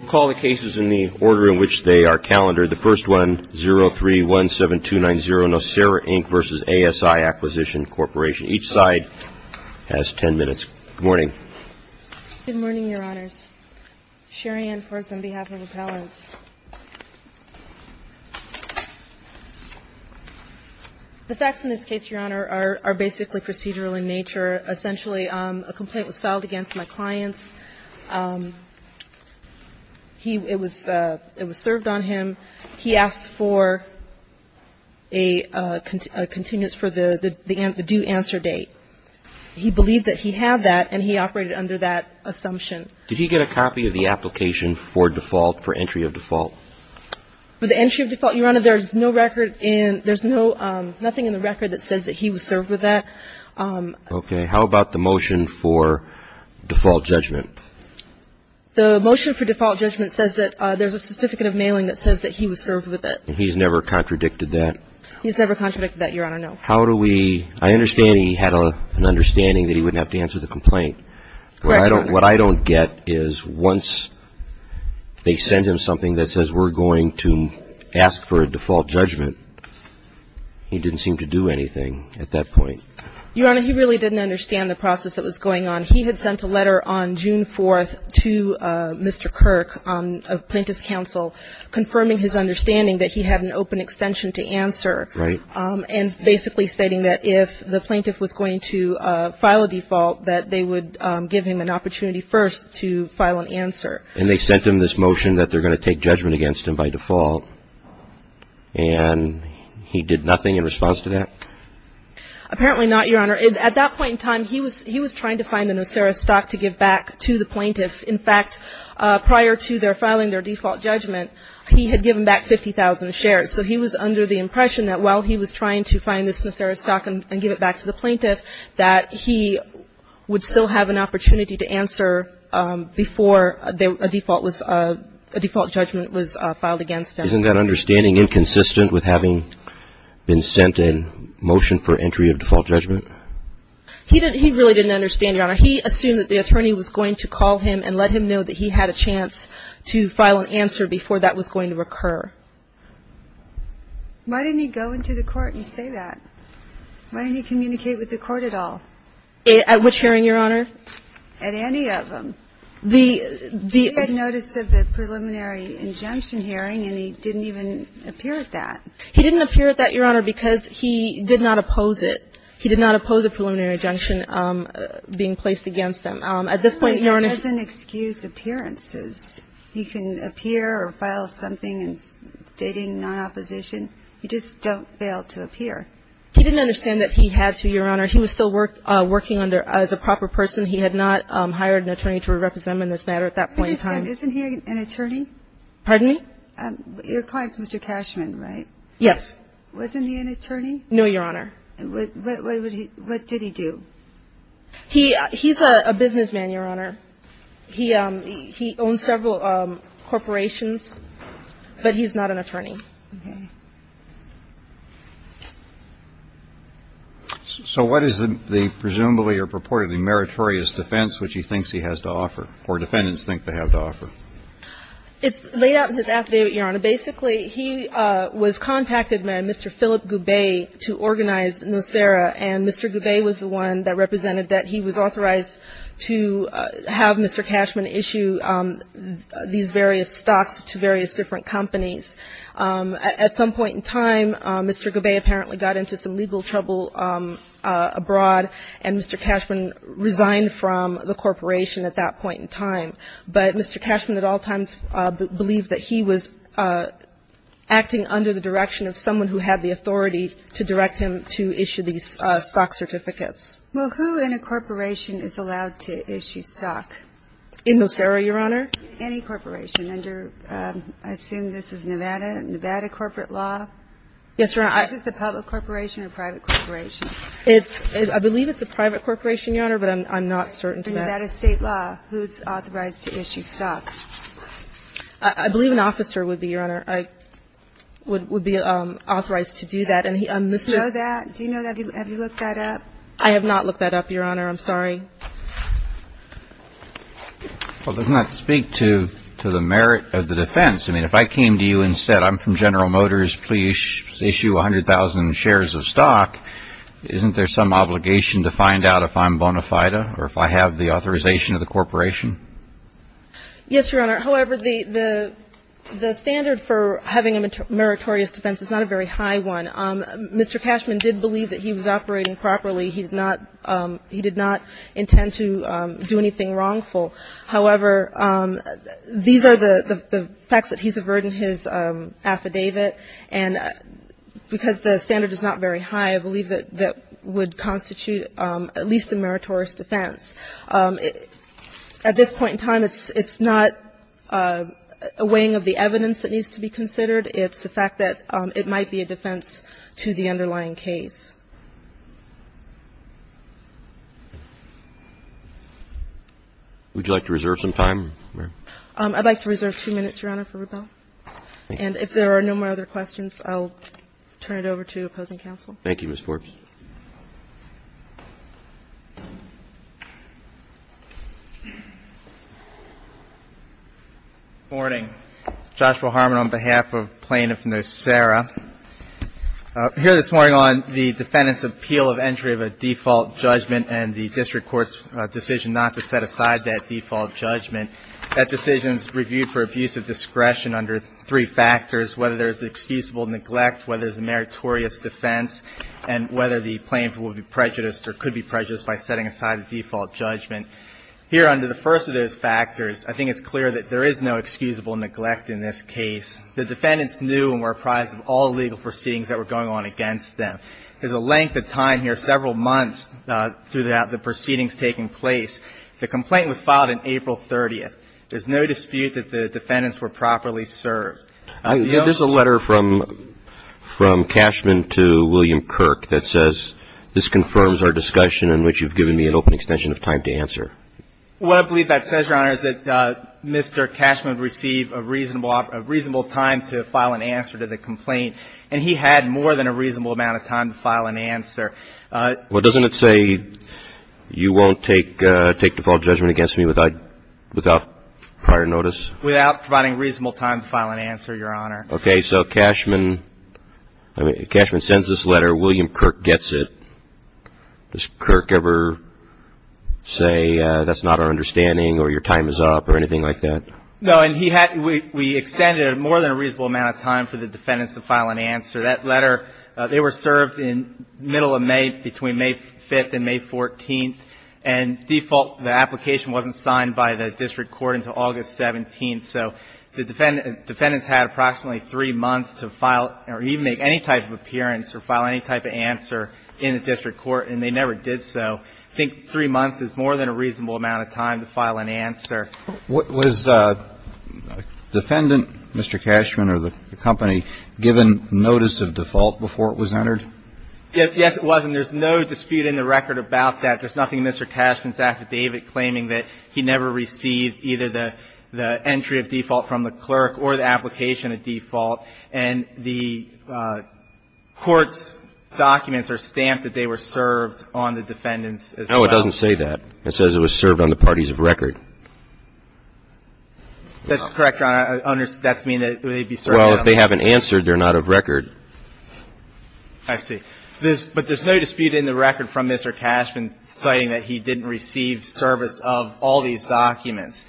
Recall the cases in the order in which they are calendared. The first one, 0317290, Nocera, Inc. v. ASI Acquisition Corporation. Each side has 10 minutes. Good morning. Good morning, Your Honors. Cherianne Forbes on behalf of Appellants. The facts in this case, Your Honor, are basically procedural in nature. Essentially a complaint was filed against my clients. It was served on him. He asked for a continuous, for the due answer date. He believed that he had that and he operated under that assumption. Did he get a copy of the application for default, for entry of default? For the entry of default, Your Honor, there is no record in, there is nothing in the record that says that he was served with that. Okay. How about the motion for default judgment? The motion for default judgment says that there's a certificate of mailing that says that he was served with it. And he's never contradicted that? He's never contradicted that, Your Honor, no. How do we, I understand he had an understanding that he wouldn't have to answer the complaint. Correct, Your Honor. What I don't get is once they send him something that says we're going to ask for a default judgment, he didn't seem to do anything at that point. Your Honor, he really didn't understand the process that was going on. He had sent a letter on June 4th to Mr. Kirk, a plaintiff's counsel, confirming his understanding that he had an open extension to answer. Right. And basically stating that if the plaintiff was going to file a default, that they would give him an opportunity first to file an answer. And they sent him this motion that they're going to take judgment against him by default, and he did nothing in response to that? Apparently not, Your Honor. At that point in time, he was trying to find the Nocera stock to give back to the plaintiff. In fact, prior to their filing their default judgment, he had given back 50,000 shares. So he was under the impression that while he was trying to find this Nocera stock and give it back to the plaintiff, that he would still have an opportunity to answer before a default was, a default judgment was filed against him. Isn't that understanding inconsistent with having been sent a motion for entry of default judgment? He really didn't understand, Your Honor. He assumed that the attorney was going to call him and let him know that he had a chance to file an answer before that was going to occur. Why didn't he go into the court and say that? Why didn't he communicate with the court at all? At which hearing, Your Honor? At any of them. He had notice of the preliminary injunction hearing, and he didn't even appear at that. He didn't appear at that, Your Honor, because he did not oppose it. He did not oppose a preliminary injunction being placed against him. At this point, Your Honor, he doesn't excuse appearances. He can appear or file something stating non-opposition. You just don't fail to appear. He didn't understand that he had to, Your Honor. He was still working under as a proper person. He had not hired an attorney to represent him in this matter at that point in time. Wait a second. Isn't he an attorney? Pardon me? Your client's Mr. Cashman, right? Yes. Wasn't he an attorney? No, Your Honor. What did he do? He's a businessman, Your Honor. He owns several corporations, but he's not an attorney. Okay. So what is the presumably or purportedly meritorious defense which he thinks he has to offer or defendants think they have to offer? It's laid out in his act, Your Honor. Basically, he was contacted by Mr. Philip Goubet to organize Nocera, and Mr. Goubet was the one that represented that he was authorized to have Mr. Cashman issue these various stocks to various different companies. At some point in time, Mr. Goubet apparently got into some legal trouble abroad, and Mr. Cashman resigned from the corporation at that point in time. But Mr. Cashman at all times believed that he was acting under the direction of someone who had the authority to direct him to issue these stock certificates. Well, who in a corporation is allowed to issue stock? In Nocera, Your Honor? Any corporation under, I assume this is Nevada, Nevada corporate law? Yes, Your Honor. Is this a public corporation or a private corporation? I believe it's a private corporation, Your Honor, but I'm not certain to that. For Nevada state law, who's authorized to issue stock? I believe an officer would be, Your Honor, would be authorized to do that. Do you know that? Do you know that? Have you looked that up? I have not looked that up, Your Honor. I'm sorry. Well, it does not speak to the merit of the defense. I mean, if I came to you and said I'm from General Motors, please issue 100,000 shares of stock, isn't there some obligation to find out if I'm bona fide or if I have the authorization of the corporation? Yes, Your Honor. However, the standard for having a meritorious defense is not a very high one. Mr. Cashman did believe that he was operating properly. He did not intend to do anything wrongful. However, these are the facts that he's averted in his affidavit. And because the standard is not very high, I believe that would constitute at least a meritorious defense. At this point in time, it's not a weighing of the evidence that needs to be considered. It's the fact that it might be a defense to the underlying case. Would you like to reserve some time, ma'am? I'd like to reserve two minutes, Your Honor, for rebuttal. Thank you. And if there are no more other questions, I'll turn it over to opposing counsel. Thank you, Ms. Forbes. Good morning. Joshua Harmon on behalf of Plaintiff Nocera. Here this morning on the defendant's appeal of entry of a default judgment and the district court's decision not to set aside that default judgment, that decision is reviewed for abuse of discretion under three factors, whether there's excusable neglect, whether there's a meritorious defense, and whether the plaintiff will be prejudiced or could be prejudiced by setting aside the default judgment. Here under the first of those factors, I think it's clear that there is no excusable neglect in this case. The defendants knew and were apprised of all legal proceedings that were going on against them. There's a length of time here, several months, through the proceedings taking place. The complaint was filed on April 30th. There's no dispute that the defendants were properly served. There's a letter from Cashman to William Kirk that says, this confirms our discussion in which you've given me an open extension of time to answer. What I believe that says, Your Honor, is that Mr. Cashman received a reasonable time to file an answer to the complaint, and he had more than a reasonable amount of time to file an answer. Well, doesn't it say you won't take default judgment against me without prior notice? Without providing reasonable time to file an answer, Your Honor. Okay. So Cashman sends this letter. William Kirk gets it. Does Kirk ever say that's not our understanding or your time is up or anything like that? No, and we extended more than a reasonable amount of time for the defendants to file an answer. That letter, they were served in the middle of May, between May 5th and May 14th. And default, the application wasn't signed by the district court until August 17th. So the defendants had approximately three months to file or even make any type of appearance or file any type of answer in the district court, and they never did so. I think three months is more than a reasonable amount of time to file an answer. Was defendant, Mr. Cashman or the company, given notice of default before it was entered? Yes, it was, and there's no dispute in the record about that. There's nothing in Mr. Cashman's affidavit claiming that he never received either the entry of default from the clerk or the application of default, and the court's documents are stamped that they were served on the defendants as well. No, it doesn't say that. It says it was served on the parties of record. That's correct, Your Honor. That means that they'd be served on the parties of record. Well, if they haven't answered, they're not of record. I see. But there's no dispute in the record from Mr. Cashman citing that he didn't receive service of all these documents.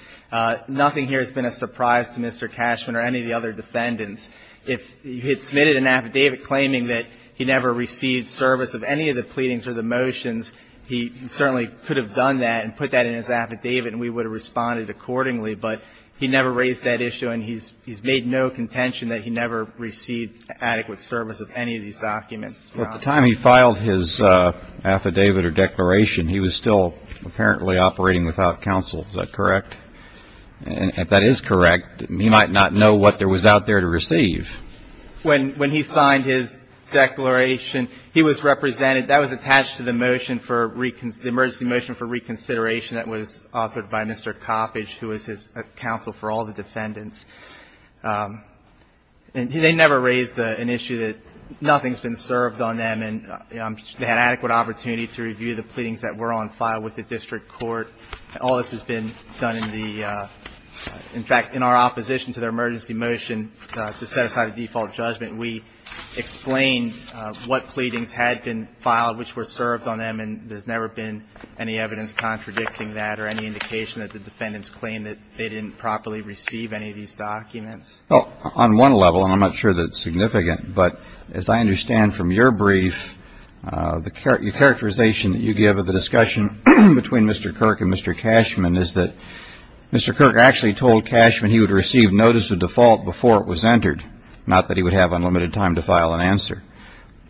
Nothing here has been a surprise to Mr. Cashman or any of the other defendants. If he had submitted an affidavit claiming that he never received service of any of the pleadings or the motions, he certainly could have done that and put that in his affidavit and we would have responded accordingly. But he never raised that issue, and he's made no contention that he never received adequate service of any of these documents, Your Honor. At the time he filed his affidavit or declaration, he was still apparently operating without counsel. Is that correct? And if that is correct, he might not know what there was out there to receive. When he signed his declaration, he was represented. That was attached to the motion for the emergency motion for reconsideration that was authored by Mr. Coppedge, who was his counsel for all the defendants. And they never raised an issue that nothing's been served on them, and they had adequate opportunity to review the pleadings that were on file with the district court. All this has been done in the – in fact, in our opposition to their emergency motion to set aside a default judgment, we explained what pleadings had been filed which were served on them, and there's never been any evidence contradicting that or any indication that the defendants claimed that they didn't properly receive any of these documents. Well, on one level, and I'm not sure that it's significant, but as I understand from your brief, the characterization that you give of the discussion between Mr. Kirk and Mr. Cashman is that Mr. Kirk actually told Cashman he would receive notice of default before it was entered, not that he would have unlimited time to file an answer.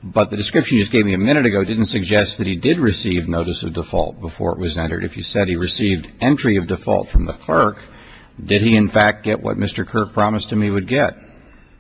But the description you just gave me a minute ago didn't suggest that he did receive notice of default before it was entered. If you said he received entry of default from the clerk, did he, in fact, get what Mr. Kirk promised him he would get?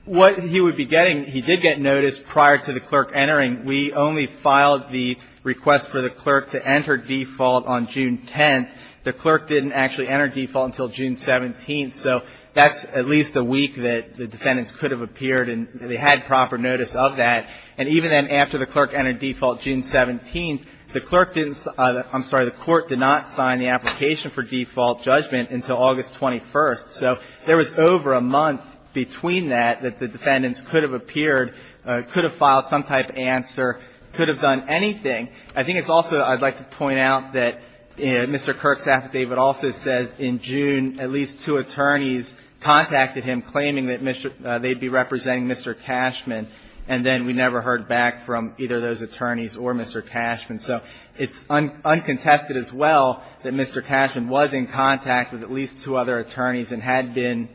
What he would be getting, he did get notice prior to the clerk entering. We only filed the request for the clerk to enter default on June 10th. The clerk didn't actually enter default until June 17th. So that's at least a week that the defendants could have appeared and they had proper notice of that. And even then, after the clerk entered default June 17th, the clerk didn't – I'm sorry, the Court did not sign the application for default judgment until August 21st. So there was over a month between that that the defendants could have appeared could have filed some type of answer, could have done anything. I think it's also – I'd like to point out that Mr. Kirk's affidavit also says in June at least two attorneys contacted him claiming that they'd be representing Mr. Cashman. And then we never heard back from either of those attorneys or Mr. Cashman. So it's uncontested as well that Mr. Cashman was in contact with at least two other Who is Philip Goubet?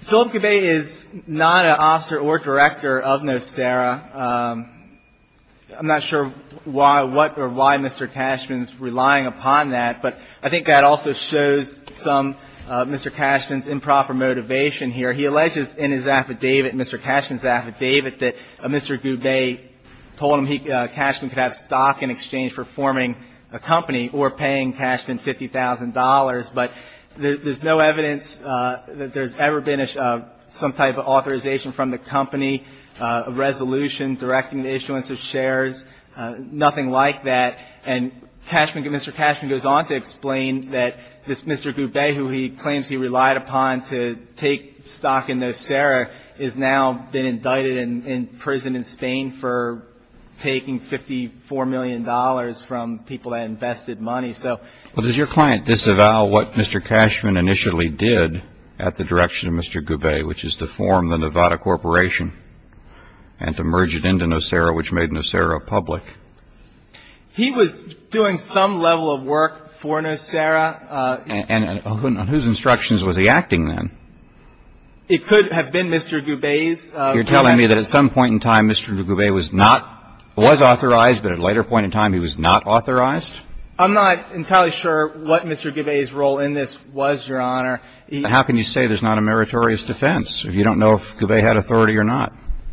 Philip Goubet is not an officer or director of NOSERA. I'm not sure why – what or why Mr. Cashman's relying upon that. But I think that also shows some – Mr. Cashman's improper motivation here. He alleges in his affidavit, Mr. Cashman's affidavit, that Mr. Goubet told him he – Cashman could have stock in exchange for forming a company or paying Cashman $50,000. But there's no evidence that there's ever been some type of authorization from the company, a resolution directing the issuance of shares, nothing like that. And Cashman – Mr. Cashman goes on to explain that this Mr. Goubet who he claims he relied upon to take stock in NOSERA has now been indicted and in prison in Spain for taking $54 million from people that invested money. Well, does your client disavow what Mr. Cashman initially did at the direction of Mr. Goubet, which is to form the Nevada Corporation and to merge it into NOSERA, which made NOSERA public? He was doing some level of work for NOSERA. And on whose instructions was he acting then? It could have been Mr. Goubet's. You're telling me that at some point in time Mr. Goubet was not – was authorized, but at a later point in time he was not authorized? I'm not entirely sure what Mr. Goubet's role in this was, Your Honor. How can you say there's not a meritorious defense if you don't know if Goubet had authority or not?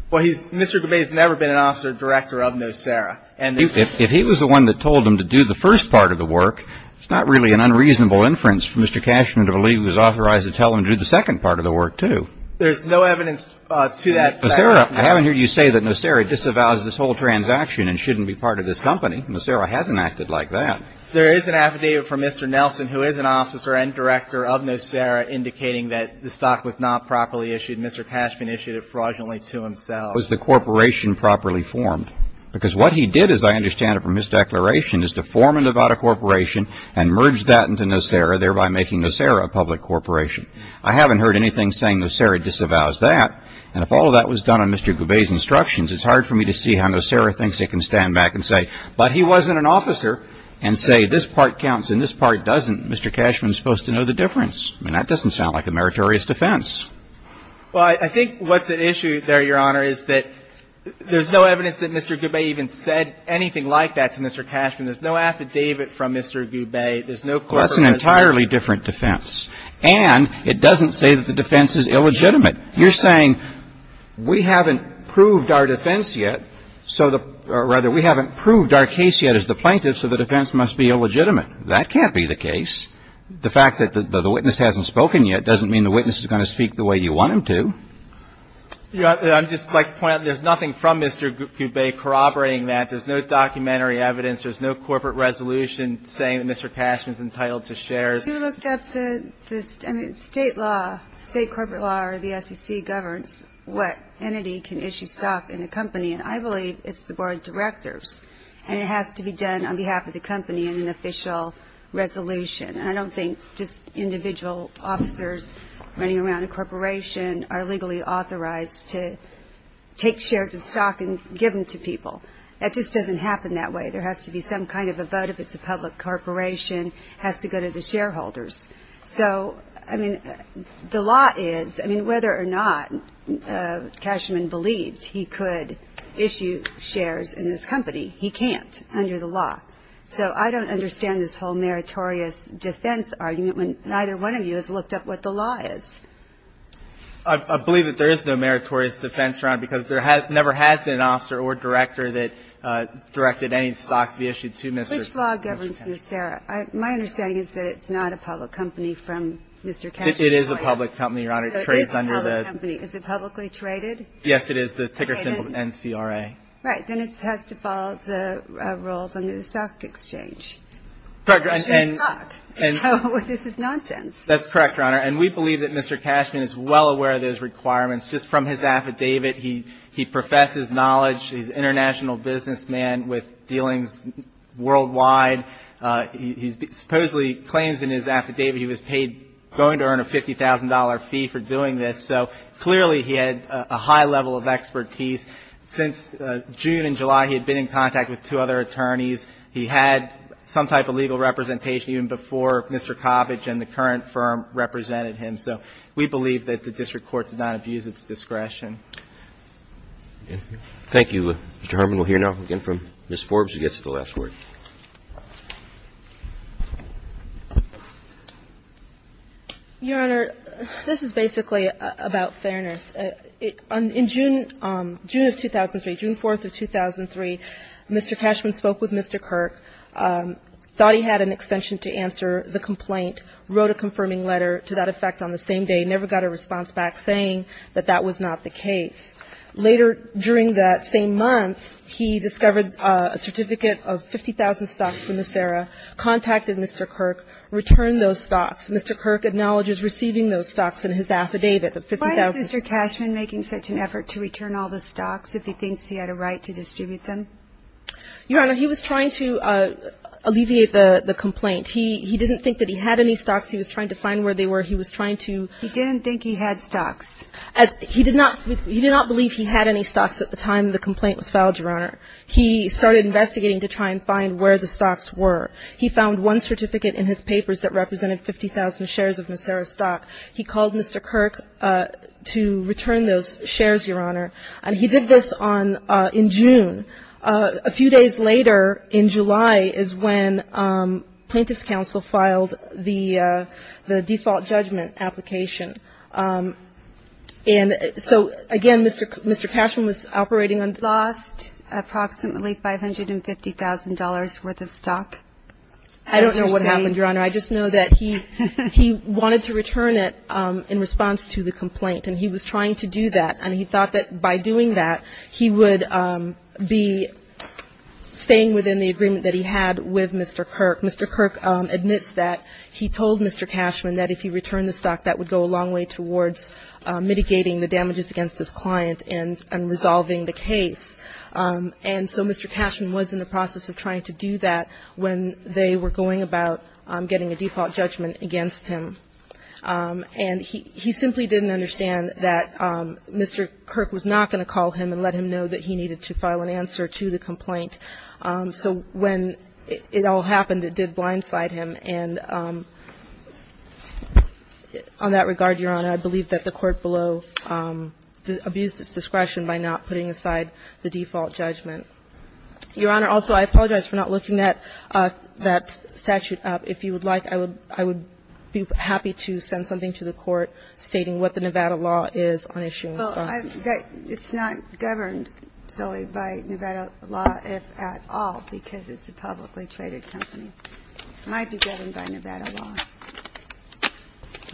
Well, he's – Mr. Goubet has never been an officer director of NOSERA. If he was the one that told him to do the first part of the work, it's not really an unreasonable inference for Mr. Cashman to believe he was authorized to tell him to do the second part of the work, too. There's no evidence to that fact. NOSERA – I haven't heard you say that NOSERA disavows this whole transaction and shouldn't be part of this company. NOSERA hasn't acted like that. There is an affidavit from Mr. Nelson, who is an officer and director of NOSERA, indicating that the stock was not properly issued. Mr. Cashman issued it fraudulently to himself. What was the corporation properly formed? Because what he did, as I understand it from his declaration, is to form a Nevada corporation and merge that into NOSERA, thereby making NOSERA a public corporation. I haven't heard anything saying NOSERA disavows that. And if all of that was done on Mr. Goubet's instructions, it's hard for me to see how NOSERA thinks it can stand back and say, but he wasn't an officer, and say this part counts and this part doesn't. Mr. Cashman is supposed to know the difference. I mean, that doesn't sound like a meritorious defense. Well, I think what's at issue there, Your Honor, is that there's no evidence that Mr. Goubet even said anything like that to Mr. Cashman. There's no affidavit from Mr. Goubet. There's no corporation. Well, that's an entirely different defense. And it doesn't say that the defense is illegitimate. You're saying we haven't proved our defense yet, so the – or rather, we haven't proved our case yet as the plaintiffs, so the defense must be illegitimate. That can't be the case. The fact that the witness hasn't spoken yet doesn't mean the witness is going to speak the way you want him to. I'd just like to point out, there's nothing from Mr. Goubet corroborating that. There's no documentary evidence. There's no corporate resolution saying that Mr. Cashman is entitled to shares. If you looked at the state law, state corporate law or the SEC governs what entity can issue stock in a company, and I believe it's the board of directors, and it has to be done on behalf of the company in an official resolution. And I don't think just individual officers running around a corporation are legally authorized to take shares of stock and give them to people. That just doesn't happen that way. There has to be some kind of a vote. If it's a public corporation, it has to go to the shareholders. So, I mean, the law is, I mean, whether or not Cashman believed he could issue shares in this company, he can't under the law. So I don't understand this whole meritorious defense argument when neither one of you has looked up what the law is. I believe that there is no meritorious defense, Your Honor, because there never has been an officer or director that directed any stock to be issued to Mr. Cashman. Which law governs this, Sarah? My understanding is that it's not a public company from Mr. Cashman's point. It is a public company, Your Honor. So it is a public company. Is it publicly traded? Yes, it is. The ticker symbol is NCRA. Right. Then it has to follow the rules under the stock exchange. Correct. It's just stock. So this is nonsense. That's correct, Your Honor. And we believe that Mr. Cashman is well aware of those requirements. Just from his affidavit, he professes knowledge. He's an international businessman with dealings worldwide. He supposedly claims in his affidavit he was paid going to earn a $50,000 fee for doing this. So clearly he had a high level of expertise. Since June and July, he had been in contact with two other attorneys. He had some type of legal representation even before Mr. Coppedge and the current firm represented him. So we believe that the district court did not abuse its discretion. Thank you, Mr. Herman. We'll hear now again from Ms. Forbes who gets the last word. Ms. Forbes. Your Honor, this is basically about fairness. In June of 2003, June 4th of 2003, Mr. Cashman spoke with Mr. Kirk, thought he had an extension to answer the complaint, wrote a confirming letter to that effect on the same day, never got a response back saying that that was not the case. Later during that same month, he discovered a certificate of 50,000 stocks from Nisera, contacted Mr. Kirk, returned those stocks. Mr. Kirk acknowledges receiving those stocks in his affidavit, the 50,000. Why is Mr. Cashman making such an effort to return all the stocks if he thinks he had a right to distribute them? Your Honor, he was trying to alleviate the complaint. He didn't think that he had any stocks. He was trying to find where they were. He was trying to ---- He didn't think he had stocks. He did not believe he had any stocks at the time the complaint was filed, Your Honor. He started investigating to try and find where the stocks were. He found one certificate in his papers that represented 50,000 shares of Nisera stock. He called Mr. Kirk to return those shares, Your Honor. And he did this on ---- in June. A few days later in July is when Plaintiff's Counsel filed the default judgment application. And so, again, Mr. Cashman was operating on ---- He lost approximately $550,000 worth of stock? I don't know what happened, Your Honor. I just know that he wanted to return it in response to the complaint. And he was trying to do that. And he thought that by doing that, he would be staying within the agreement that he had with Mr. Kirk. Mr. Kirk admits that he told Mr. Cashman that if he returned the stock, that would go a long way towards mitigating the damages against his client and resolving the case. And so Mr. Cashman was in the process of trying to do that when they were going about getting a default judgment against him. And he simply didn't understand that Mr. Kirk was not going to call him and let him know that he needed to file an answer to the complaint. So when it all happened, it did blindside him. And on that regard, Your Honor, I believe that the court below abused its discretion by not putting aside the default judgment. Your Honor, also, I apologize for not looking that statute up. If you would like, I would be happy to send something to the Court stating what the Nevada law is on issuance of ---- It's not governed solely by Nevada law, if at all, because it's a publicly traded company. It might be governed by Nevada law.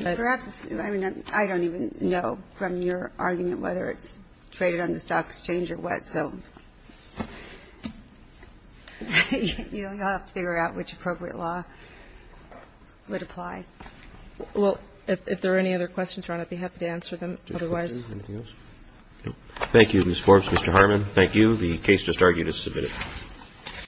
I don't even know from your argument whether it's traded on the stock exchange or what. So you'll have to figure out which appropriate law would apply. Well, if there are any other questions, Your Honor, I'd be happy to answer them. Otherwise ---- Thank you, Ms. Forbes. Mr. Harmon, thank you. The case just argued is submitted.